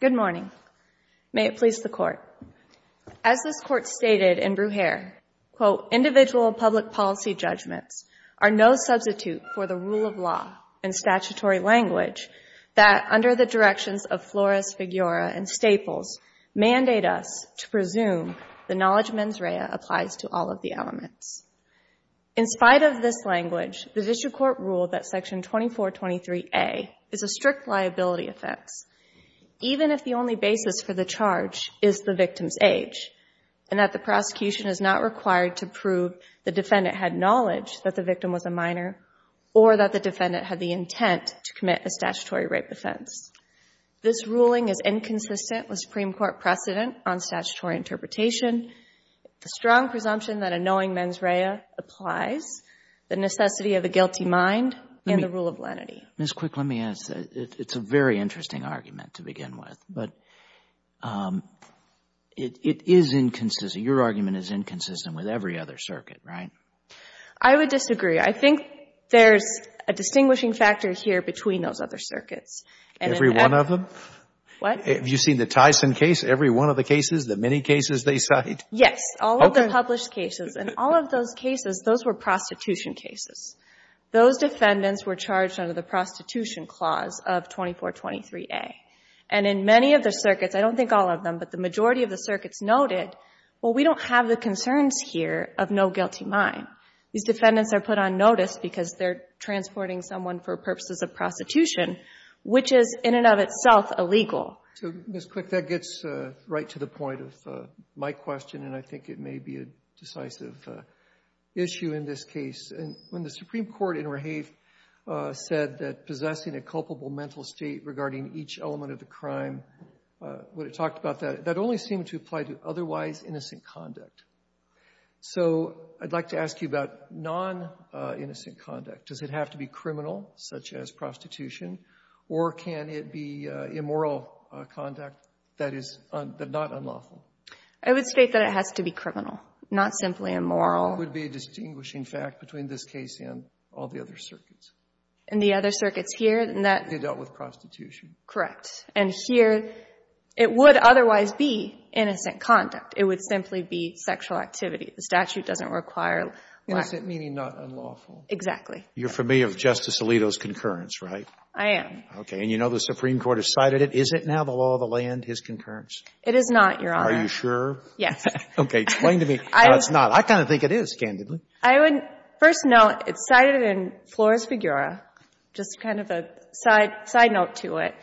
Good morning. May it please the Court. As this Court stated in Brugere, quote, individual public policy judgments are no substitute for the rule of law and statutory language that, under the directions of Flores, Figueroa, and Staples, mandate us to presume the knowledge mens rea applies to all of the elements. In spite of this language, the District Court ruled that Section 2423A is a strict liability offense, even if the only basis for the charge is the victim's age, and that the prosecution is not required to prove the defendant had knowledge that the victim was a minor or that the defendant had the intent to commit a statutory rape offense. This ruling is inconsistent with Supreme Court precedent on statutory interpretation. The strong presumption that a knowing mens rea applies, the necessity of a guilty mind, and the rule of lenity. Mrs. Quick, let me ask. It's a very interesting argument to begin with, but it is inconsistent — your argument is inconsistent with every other circuit, right? I would disagree. I think there's a distinguishing factor here between those other circuits. Every one of them? What? Have you seen the Tyson case? Every one of the cases? The many cases they cite? Yes. All of the published cases. And all of those cases, those were prostitution cases. Those defendants were charged under the Prostitution Clause of 2423A. And in many of the circuits, I don't think all of them, but the majority of the circuits noted, well, we don't have the concerns here of no guilty mind. These defendants are put on notice because they're transporting someone for purposes of prostitution, which is in and of itself illegal. So, Ms. Quick, that gets right to the point of my question, and I think it may be a decisive issue in this case. And when the Supreme Court in Rehave said that possessing a culpable mental state regarding each element of the crime, when it talked about that, that only seemed to apply to otherwise innocent conduct. So I'd like to ask you about non-innocent conduct. Does it have to be criminal, such as prostitution? Or can it be immoral conduct that is not unlawful? I would state that it has to be criminal, not simply immoral. That would be a distinguishing fact between this case and all the other circuits. And the other circuits here, that— They dealt with prostitution. Correct. And here, it would otherwise be innocent conduct. It would simply be sexual activity. The statute doesn't require— Innocent meaning not unlawful. Exactly. You're familiar with Justice Alito's concurrence, right? I am. Okay. And you know the Supreme Court has cited it. Is it now the law of the land, his concurrence? It is not, Your Honor. Are you sure? Yes. Okay. Explain to me how it's not. I kind of think it is, candidly. I would — first note, it's cited in Flores-Figueroa, just kind of a side note to it.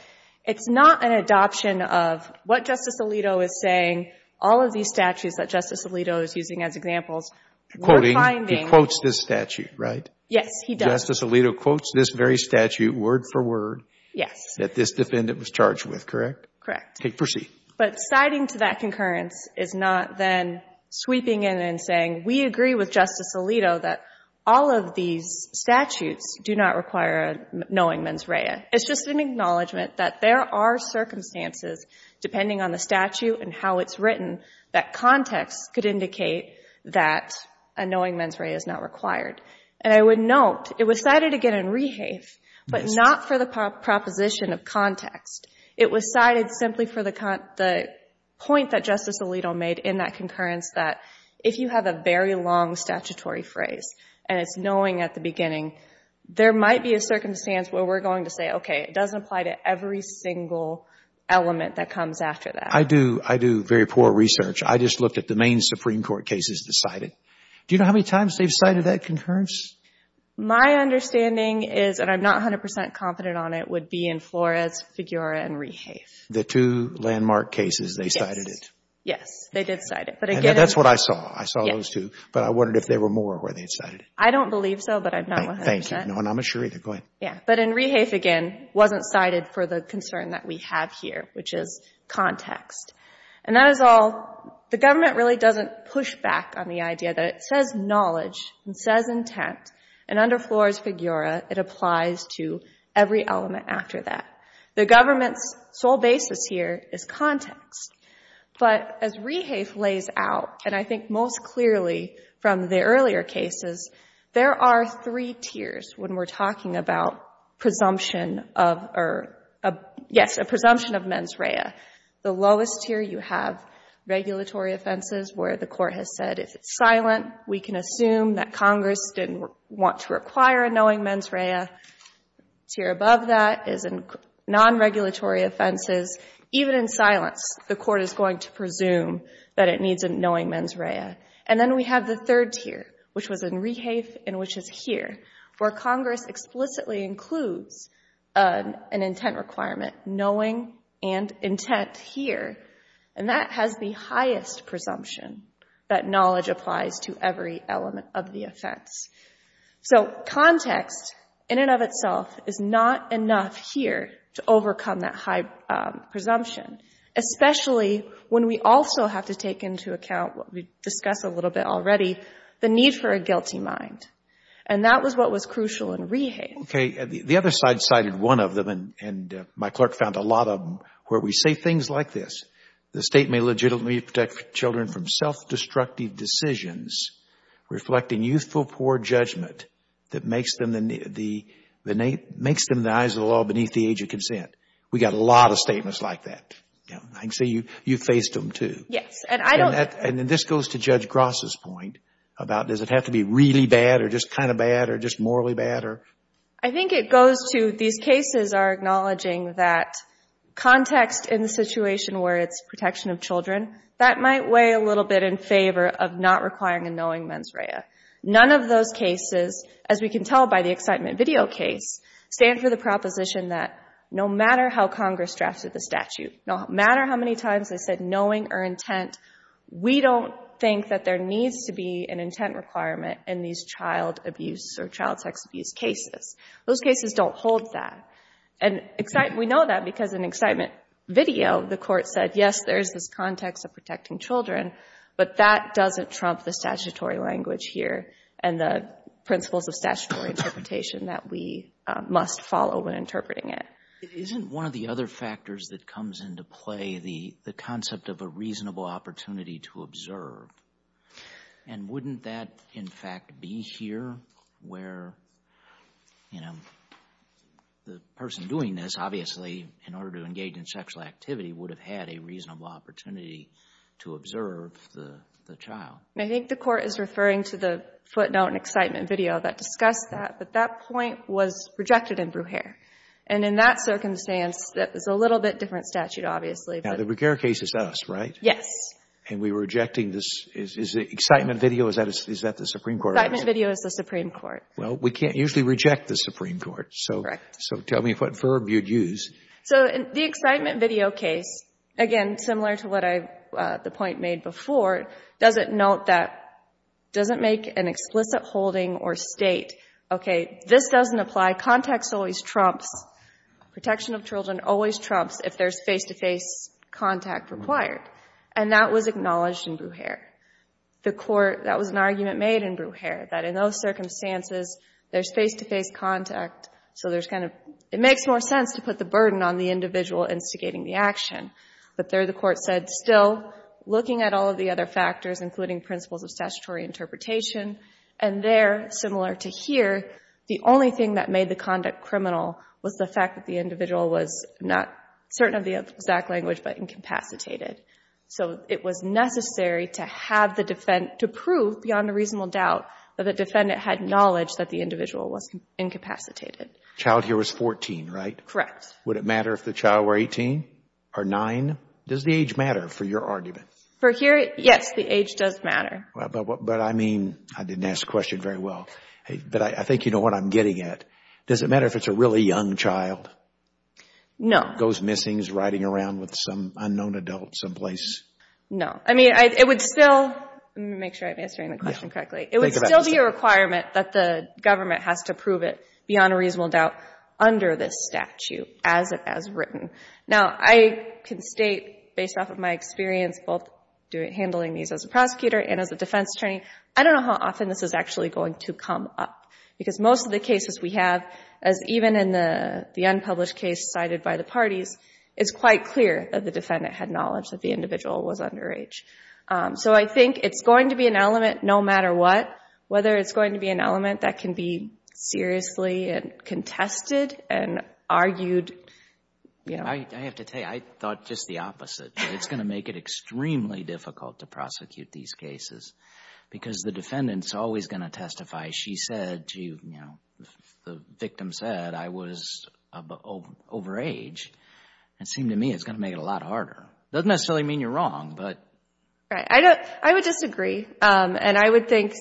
It's not an adoption of what Justice Alito is saying. All of these statutes that Justice Alito is using as examples, we're finding— Yes, he does. Justice Alito quotes this very statute word for word— Yes. —that this defendant was charged with, correct? Correct. Okay. Proceed. But citing to that concurrence is not then sweeping in and saying, we agree with Justice Alito that all of these statutes do not require a knowing mens rea. It's just an acknowledgment that there are circumstances, depending on the statute and how it's written, that context could indicate that a knowing mens rea is not required. And I would note, it was cited again in Rehave, but not for the proposition of context. It was cited simply for the point that Justice Alito made in that concurrence that if you have a very long statutory phrase, and it's knowing at the beginning, there might be a circumstance where we're going to say, okay, it doesn't apply to every single element that comes after that. I do very poor research. I just looked at the main Supreme Court cases that cite it. Do you know how many times they've cited that concurrence? My understanding is, and I'm not 100 percent confident on it, would be in Flores, Figueroa, and Rehave. The two landmark cases, they cited it. Yes. They did cite it. And that's what I saw. I saw those two. But I wondered if there were more where they had cited it. I don't believe so, but I'm not 100 percent. Thank you. No, and I'm not sure either. Go ahead. Yeah. But in Rehave, again, wasn't cited for the concern that we have here, which is says knowledge and says intent, and under Flores, Figueroa, it applies to every element after that. The government's sole basis here is context. But as Rehave lays out, and I think most clearly from the earlier cases, there are three tiers when we're talking about presumption of, or, yes, a presumption of mens rea. The lowest tier you have, regulatory offenses, where the court has said, if it's silent, we can assume that Congress didn't want to require a knowing mens rea. Tier above that is non-regulatory offenses. Even in silence, the court is going to presume that it needs a knowing mens rea. And then we have the third tier, which was in Rehave and which is here, where Congress explicitly includes an intent requirement, knowing and intent here. And that has the highest presumption, that knowledge applies to every element of the offense. So context, in and of itself, is not enough here to overcome that high presumption, especially when we also have to take into account what we discussed a little bit already, the need for a guilty mind. And that was what was crucial in Rehave. Okay. The other side cited one of them, and my clerk found a lot of them, where we say things like this, the State may legitimately protect children from self-destructive decisions reflecting youthful poor judgment that makes them the eyes of the law beneath the age of consent. We got a lot of statements like that. I can see you faced them, too. Yes. And this goes to Judge Gross' point about does it have to be really bad or just kind of bad or just morally bad? I think it goes to these cases are acknowledging that context in the situation where it's protection of children, that might weigh a little bit in favor of not requiring a knowing mens rea. None of those cases, as we can tell by the excitement video case, stand for the proposition that no matter how Congress drafted the statute, no matter how many times they said knowing or intent, we don't think that there needs to be an intent requirement in these child abuse or child sex abuse cases. Those cases don't hold that. And we know that because in excitement video, the Court said, yes, there is this context of protecting children, but that doesn't trump the statutory language here and the principles of statutory interpretation that we must follow when interpreting it. Isn't one of the other factors that comes into play the concept of a reasonable opportunity to observe? And wouldn't that, in fact, be here where, you know, the person doing this, obviously, in order to engage in sexual activity, would have had a reasonable opportunity to observe the child? I think the Court is referring to the footnote in excitement video that discussed that, but that point was rejected in Brugere. And in that circumstance, that is a little bit different statute, obviously. Now, the Brugere case is us, right? Yes. And we were rejecting this. Is it excitement video? Is that the Supreme Court? Excitement video is the Supreme Court. Well, we can't usually reject the Supreme Court, so tell me what verb you'd use. So the excitement video case, again, similar to what I, the point made before, doesn't note that, doesn't make an explicit holding or state, okay, this doesn't apply. My contacts always trumps, protection of children always trumps if there's face-to-face contact required. And that was acknowledged in Brugere. The Court, that was an argument made in Brugere, that in those circumstances, there's face-to-face contact, so there's kind of, it makes more sense to put the burden on the individual instigating the action. But there the Court said, still, looking at all of the other factors, including principles of statutory interpretation, and there, similar to here, the only thing that made the conduct criminal was the fact that the individual was not certain of the exact language, but incapacitated. So it was necessary to have the defendant, to prove beyond a reasonable doubt that the defendant had knowledge that the individual was incapacitated. Child here was 14, right? Correct. Would it matter if the child were 18 or 9? Does the age matter for your argument? For here, yes. The age does matter. But I mean, I didn't ask the question very well, but I think you know what I'm getting at. Does it matter if it's a really young child? No. Goes missing, is riding around with some unknown adult someplace? No. I mean, it would still, let me make sure I'm answering the question correctly. It would still be a requirement that the government has to prove it beyond a reasonable doubt under this statute as written. Now, I can state, based off of my experience, both handling these as a prosecutor and as a defense attorney, I don't know how often this is actually going to come up. Because most of the cases we have, as even in the unpublished case cited by the parties, it's quite clear that the defendant had knowledge that the individual was underage. So I think it's going to be an element, no matter what, whether it's going to be an element that can be seriously contested and argued, you know. I have to tell you, I thought just the opposite, that it's going to make it extremely difficult to prosecute these cases. Because the defendant is always going to testify. She said, you know, the victim said, I was overage, and it seemed to me it's going to make it a lot harder. It doesn't necessarily mean you're wrong, but... Right. I would disagree, and I would think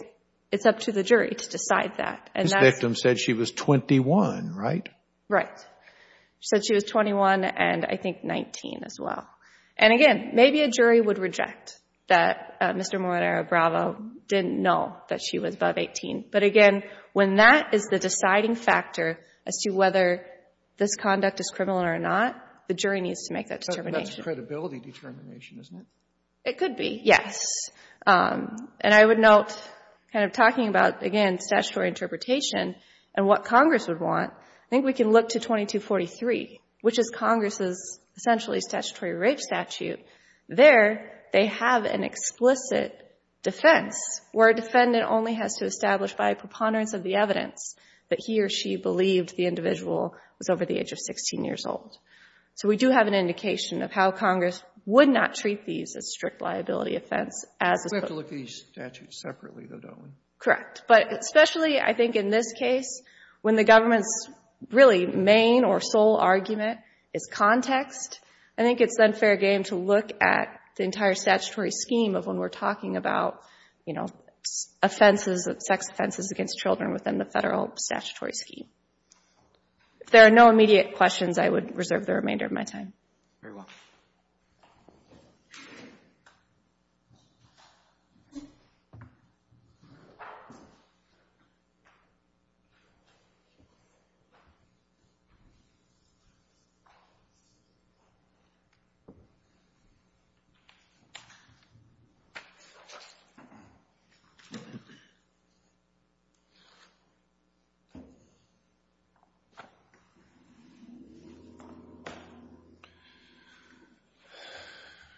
it's up to the jury to decide that. This victim said she was 21, right? Right. She said she was 21 and I think 19 as well. And again, maybe a jury would reject that Mr. Moranara-Bravo didn't know that she was above 18. But again, when that is the deciding factor as to whether this conduct is criminal or not, the jury needs to make that determination. But that's credibility determination, isn't it? It could be, yes. And I would note, kind of talking about, again, statutory interpretation and what Congress would want, I think we can look to 2243, which is Congress's essentially statutory rape statute. There, they have an explicit defense where defendant only has to establish by a preponderance of the evidence that he or she believed the individual was over the age of 16 years old. So we do have an indication of how Congress would not treat these as strict liability offense as... We have to look at these statutes separately, though, don't we? Correct. But especially, I think, in this case, when the government's really main or sole argument is context, I think it's then fair game to look at the entire statutory scheme of when we're talking about, you know, offenses, sex offenses against children within the federal statutory scheme. If there are no immediate questions, I would reserve the remainder of my time. Very well. Thank you.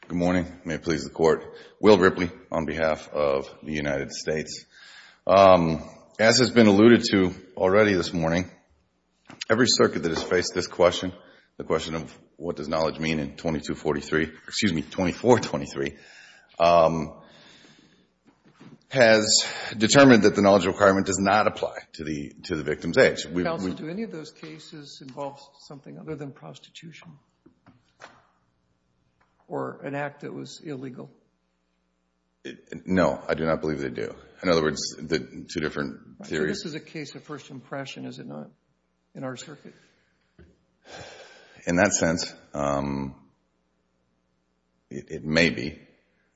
Good morning. May it please the Court. Will Ripley on behalf of the United States. As has been alluded to already this morning, every circuit that has faced this question, the question of what does knowledge mean in 2243, excuse me, 2423, has determined that the knowledge requirement does not apply to the victim's age. Counsel, do any of those cases involve something other than prostitution or an act that was illegal? No. I do not believe they do. In other words, the two different theories. So this is a case of first impression, is it not, in our circuit? In that sense, it may be.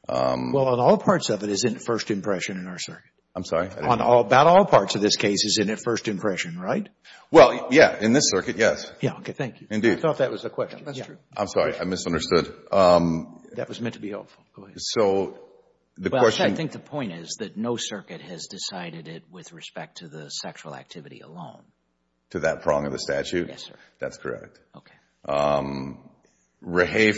Well, in all parts of it, it's in first impression in our circuit. I'm sorry? About all parts of this case is in first impression, right? Well, yeah. In this circuit, yes. Yeah. Okay. Thank you. Indeed. I thought that was the question. That's true. I'm sorry. I misunderstood. That was meant to be helpful. Go ahead. Well, I think the point is that no circuit has decided it with respect to the sexual activity alone. To that prong of the statute? Yes, sir. That's correct. Okay. REHAFE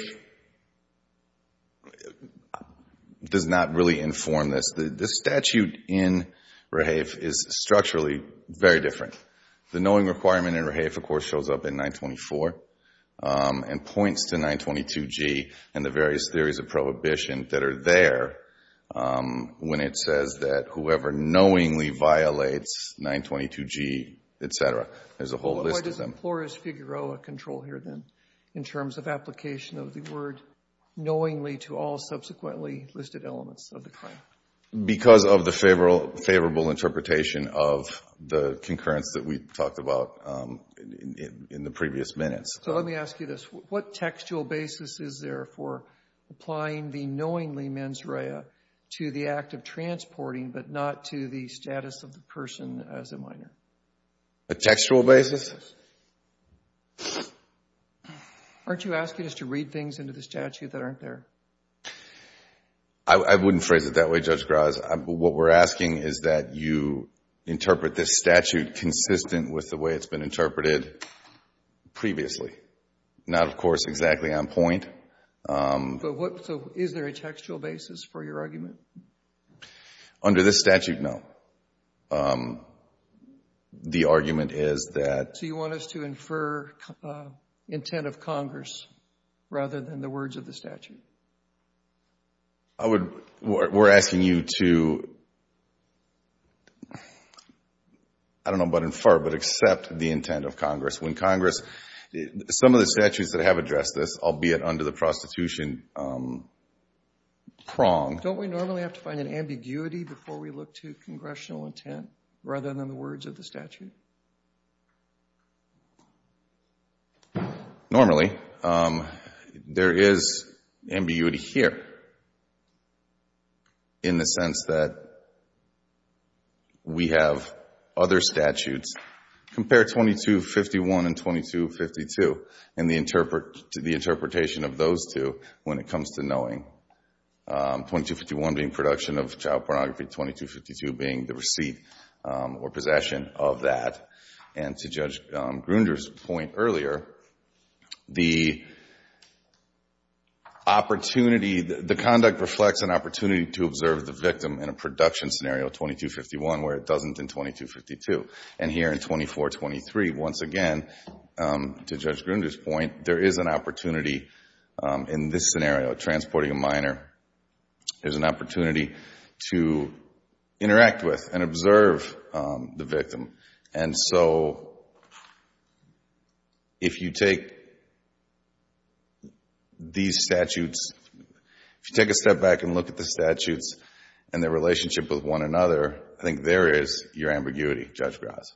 does not really inform this. The statute in REHAFE is structurally very different. The knowing requirement in REHAFE, of course, shows up in 924 and points to 922G and the various theories of prohibition that are there when it says that whoever knowingly violates 922G, et cetera, there's a whole list of them. Why does implorers figure out a control here then in terms of application of the word knowingly to all subsequently listed elements of the claim? Because of the favorable interpretation of the concurrence that we talked about in the previous minutes. Let me ask you this. What textual basis is there for applying the knowingly mens rea to the act of transporting but not to the status of the person as a minor? A textual basis? Aren't you asking us to read things into the statute that aren't there? I wouldn't phrase it that way, Judge Graz. What we're asking is that you interpret this statute consistent with the way it's been interpreted previously. Not of course exactly on point. Is there a textual basis for your argument? Under this statute, no. The argument is that... We're asking you to, I don't know about infer, but accept the intent of Congress. When Congress... some of the statutes that have addressed this, albeit under the prostitution prong. Don't we normally have to find an ambiguity before we look to congressional intent rather than the words of the statute? Normally. There is ambiguity here in the sense that we have other statutes, compare 2251 and 2252, and the interpretation of those two when it comes to knowing, 2251 being production of that, and to Judge Grunder's point earlier, the opportunity... the conduct reflects an opportunity to observe the victim in a production scenario, 2251, where it doesn't in 2252. Here in 2423, once again, to Judge Grunder's point, there is an opportunity in this scenario about transporting a minor. There's an opportunity to interact with and observe the victim. And so, if you take these statutes... if you take a step back and look at the statutes and their relationship with one another, I think there is your ambiguity, Judge Gras.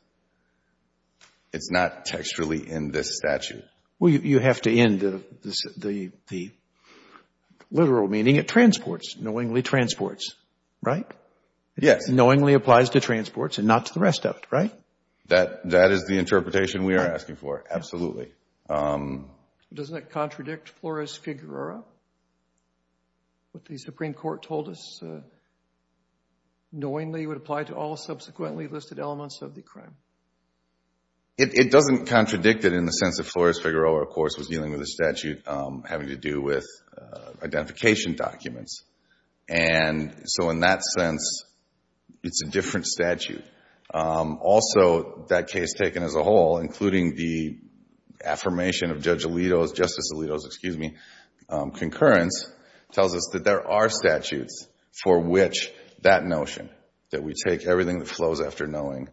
It's not textually in this statute. Well, you have to end the literal meaning. It transports, knowingly transports, right? Yes. It knowingly applies to transports and not to the rest of it, right? That is the interpretation we are asking for, absolutely. Doesn't it contradict Flores-Figueroa, what the Supreme Court told us knowingly would apply to all subsequently listed elements of the crime? It doesn't contradict it in the sense that Flores-Figueroa, of course, was dealing with a statute having to do with identification documents. And so, in that sense, it's a different statute. Also, that case taken as a whole, including the affirmation of Justice Alito's concurrence, tells us that there are statutes for which that notion, that we take everything that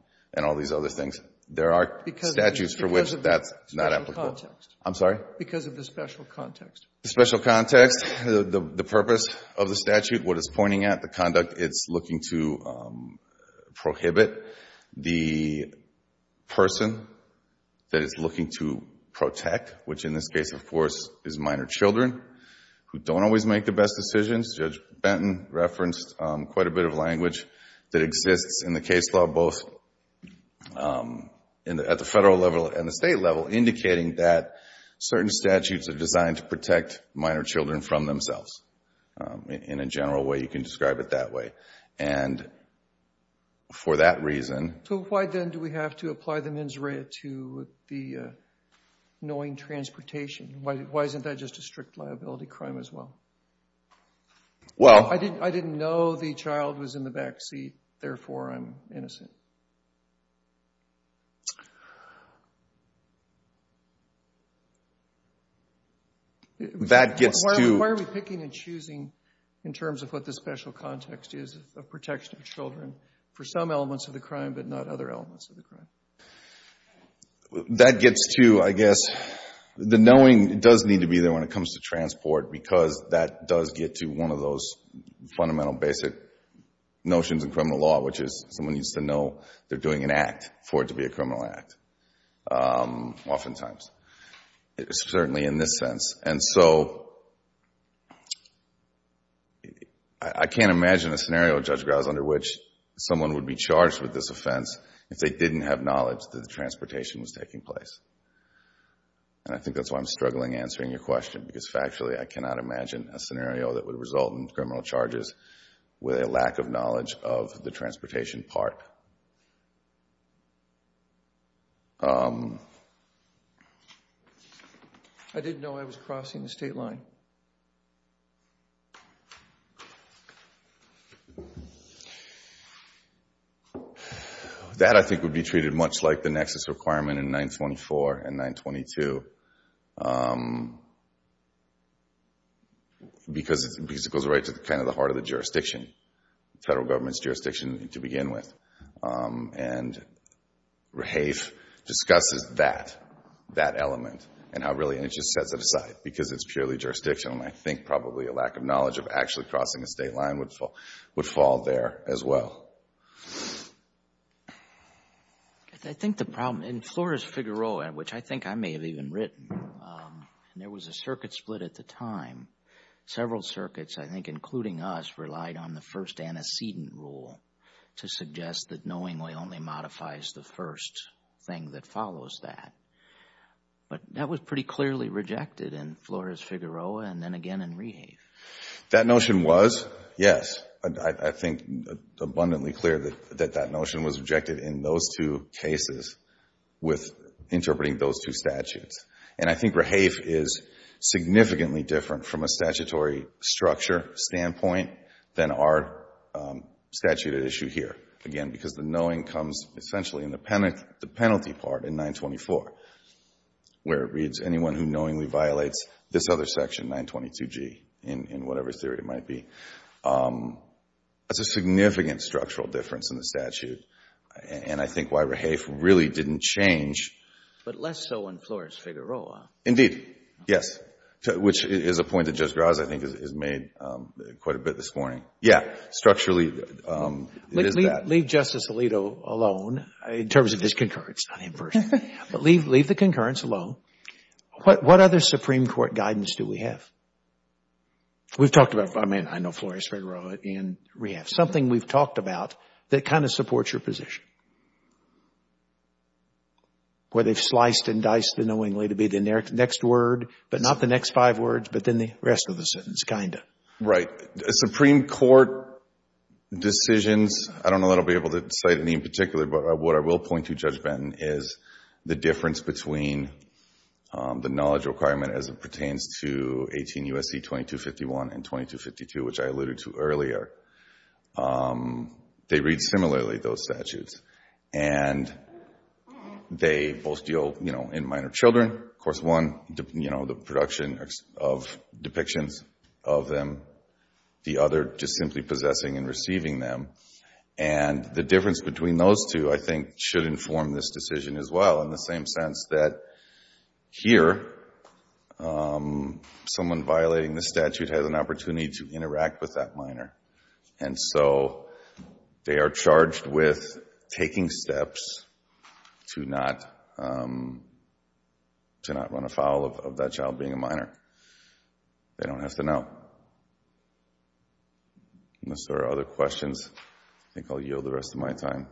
there are statutes for which that's not applicable. Because of the special context. I'm sorry? Because of the special context. The special context, the purpose of the statute, what it's pointing at, the conduct it's looking to prohibit. The person that it's looking to protect, which in this case, of course, is minor children who don't always make the best decisions, Judge Benton referenced quite a bit of language that exists in the case law, both at the federal level and the state level, indicating that certain statutes are designed to protect minor children from themselves. In a general way, you can describe it that way. And for that reason... So why then do we have to apply the mens rea to the knowing transportation? Why isn't that just a strict liability crime as well? Well... I didn't know the child was in the back seat, therefore I'm innocent. That gets to... Why are we picking and choosing in terms of what the special context is of protection of children for some elements of the crime but not other elements of the crime? That gets to, I guess, the knowing does need to be there when it comes to transport because that does get to one of those fundamental basic notions in criminal law, which is someone needs to know they're doing an act for it to be a criminal act, oftentimes, certainly in this sense. And so I can't imagine a scenario, Judge Grouse, under which someone would be charged with this offense if they didn't have knowledge that the transportation was taking place. And I think that's why I'm struggling answering your question because factually, I cannot imagine a scenario that would result in criminal charges with a lack of knowledge of the transportation part. I didn't know I was crossing the state line. That, I think, would be treated much like the nexus requirement in 924 and 922 because it goes right to kind of the heart of the jurisdiction, federal government's jurisdiction to begin with. And Rahafe discusses that, that element, and how really it just sets it aside because it's purely jurisdictional. And I think probably a lack of knowledge of actually crossing the state line would fall there as well. I think the problem, in Flores-Figueroa, which I think I may have even written, there was a circuit split at the time. Several circuits, I think, including us, relied on the first antecedent rule to suggest that knowingly only modifies the first thing that follows that. But that was pretty clearly rejected in Flores-Figueroa and then again in Rahafe. That notion was, yes, I think abundantly clear that that notion was rejected in those two cases with interpreting those two statutes. And I think Rahafe is significantly different from a statutory structure standpoint than our statute at issue here, again, because the knowing comes essentially in the penalty part in 924, where it reads, anyone who knowingly violates this other section, 922G, in whatever theory it might be. That's a significant structural difference in the statute, and I think why Rahafe really didn't change. But less so in Flores-Figueroa. Indeed. Yes. Which is a point that Judge Graz, I think, has made quite a bit this morning. Yes. Structurally, it is that. Leave Justice Alito alone in terms of his concurrence, not him personally, but leave the concurrence alone. What other Supreme Court guidance do we have? We've talked about, I mean, I know Flores-Figueroa and Rahafe, something we've talked about that kind of supports your position, where they've sliced and diced the knowingly to be the next word, but not the next five words, but then the rest of the sentence, kind of. Right. The Supreme Court decisions, I don't know that I'll be able to cite any in particular, but what I will point to, Judge Benton, is the difference between the knowledge requirement as it pertains to 18 U.S.C. 2251 and 2252, which I alluded to earlier. They read similarly, those statutes, and they both deal, you know, in minor children. Of course, one, you know, the production of depictions of them, the other just simply possessing and receiving them. The difference between those two, I think, should inform this decision as well, in the same sense that here, someone violating the statute has an opportunity to interact with that minor. And so, they are charged with taking steps to not run afoul of that child being a minor. They don't have to know. Unless there are other questions, I think I'll yield the rest of my time.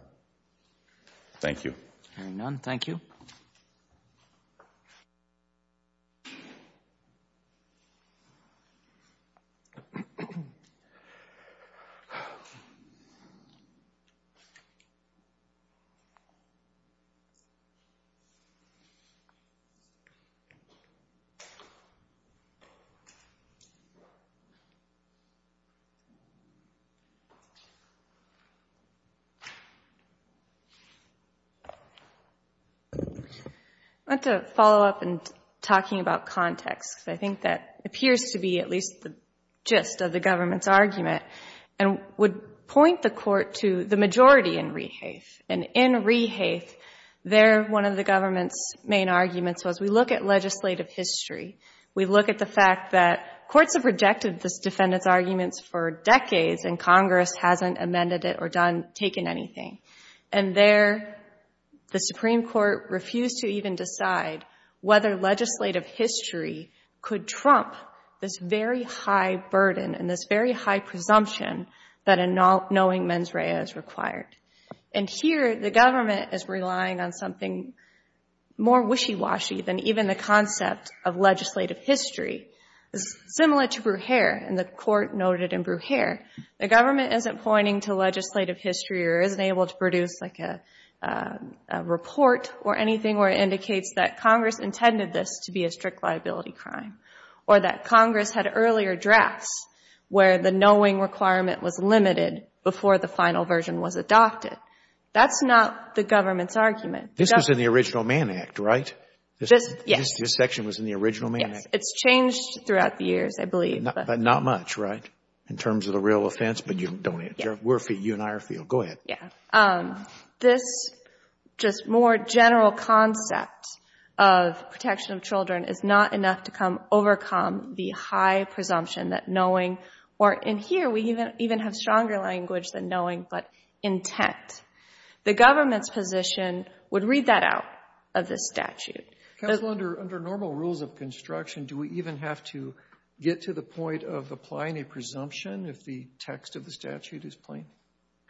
Thank you. Hearing none, thank you. I'd like to follow up in talking about context, because I think that appears to be at least the gist of the government's argument, and would point the Court to the majority in Rehaeth. And in Rehaeth, there, one of the government's main arguments was, we look at legislative history. We look at the fact that courts have rejected this defendant's arguments for decades and Congress hasn't amended it or taken anything. And there, the Supreme Court refused to even decide whether legislative history could trump this very high burden and this very high presumption that a knowing mens rea is required. And here, the government is relying on something more wishy-washy than even the concept of legislative history, similar to Brugere, and the Court noted in Brugere. The government isn't pointing to legislative history or isn't able to produce like a report or anything where it indicates that Congress intended this to be a strict liability crime, or that Congress had earlier drafts where the knowing requirement was limited before the final version was adopted. That's not the government's argument. This was in the Original Man Act, right? Yes. This section was in the Original Man Act. It's changed throughout the years, I believe. But not much, right, in terms of the real offense? But you don't need it. You and I are field. Go ahead. Yeah. This just more general concept of protection of children is not enough to overcome the high presumption that knowing or in here, we even have stronger language than knowing but intent. The government's position would read that out of this statute. Counsel, under normal rules of construction, do we even have to get to the point of applying a presumption if the text of the statute is plain?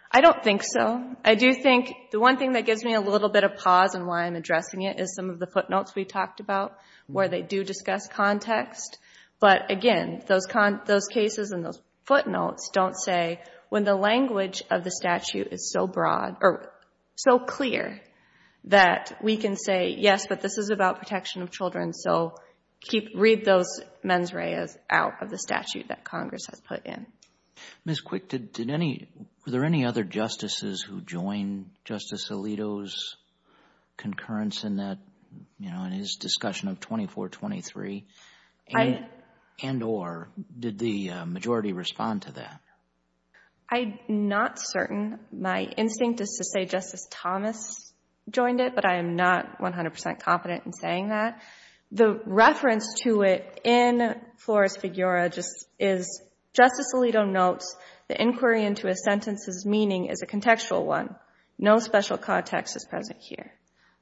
I don't think so. I do think the one thing that gives me a little bit of pause in why I'm addressing it is some of the footnotes we talked about where they do discuss context. But again, those cases and those footnotes don't say when the language of the statute is so broad or so clear that we can say, yes, but this is about protection of children. So read those mens reas out of the statute that Congress has put in. Ms. Quick, were there any other justices who joined Justice Alito's concurrence in his discussion of 2423 and or did the majority respond to that? I'm not certain. My instinct is to say Justice Thomas joined it, but I am not 100 percent confident in saying that. The reference to it in Flores-Figueroa just is Justice Alito notes the inquiry into a sentence's meaning is a contextual one. No special context is present here.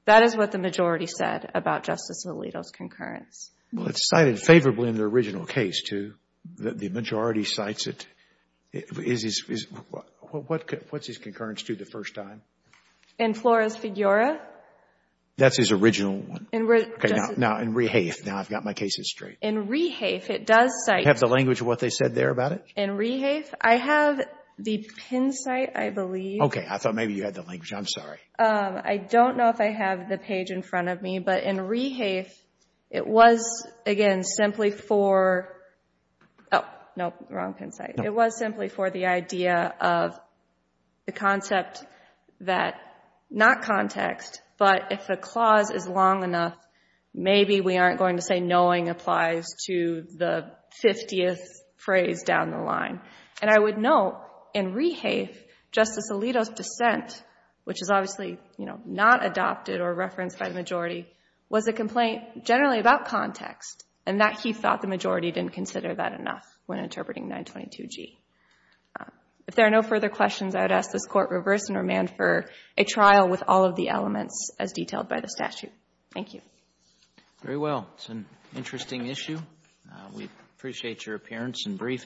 That is what the majority said about Justice Alito's concurrence. Well, it's cited favorably in the original case, too. The majority cites it. What's his concurrence to the first time? In Flores-Figueroa? That's his original one. Okay. Now, in Rehafe. Now, I've got my cases straight. In Rehafe, it does cite. Do you have the language of what they said there about it? In Rehafe? I have the pin cite, I believe. Okay. I thought maybe you had the language. I'm sorry. I don't know if I have the page in front of me, but in Rehafe, it was, again, simply for, oh, nope, wrong pin cite. It was simply for the idea of the concept that, not context, but if a clause is long enough, maybe we aren't going to say knowing applies to the 50th phrase down the line. And I would note, in Rehafe, Justice Alito's dissent, which is obviously, you know, not adopted or referenced by the majority, was a complaint generally about context, and that he thought the majority didn't consider that enough when interpreting 922G. If there are no further questions, I would ask this Court reverse and remand for a trial with all of the elements as detailed by the statute. Thank you. Very well. It's an interesting issue. We appreciate your appearance and briefing.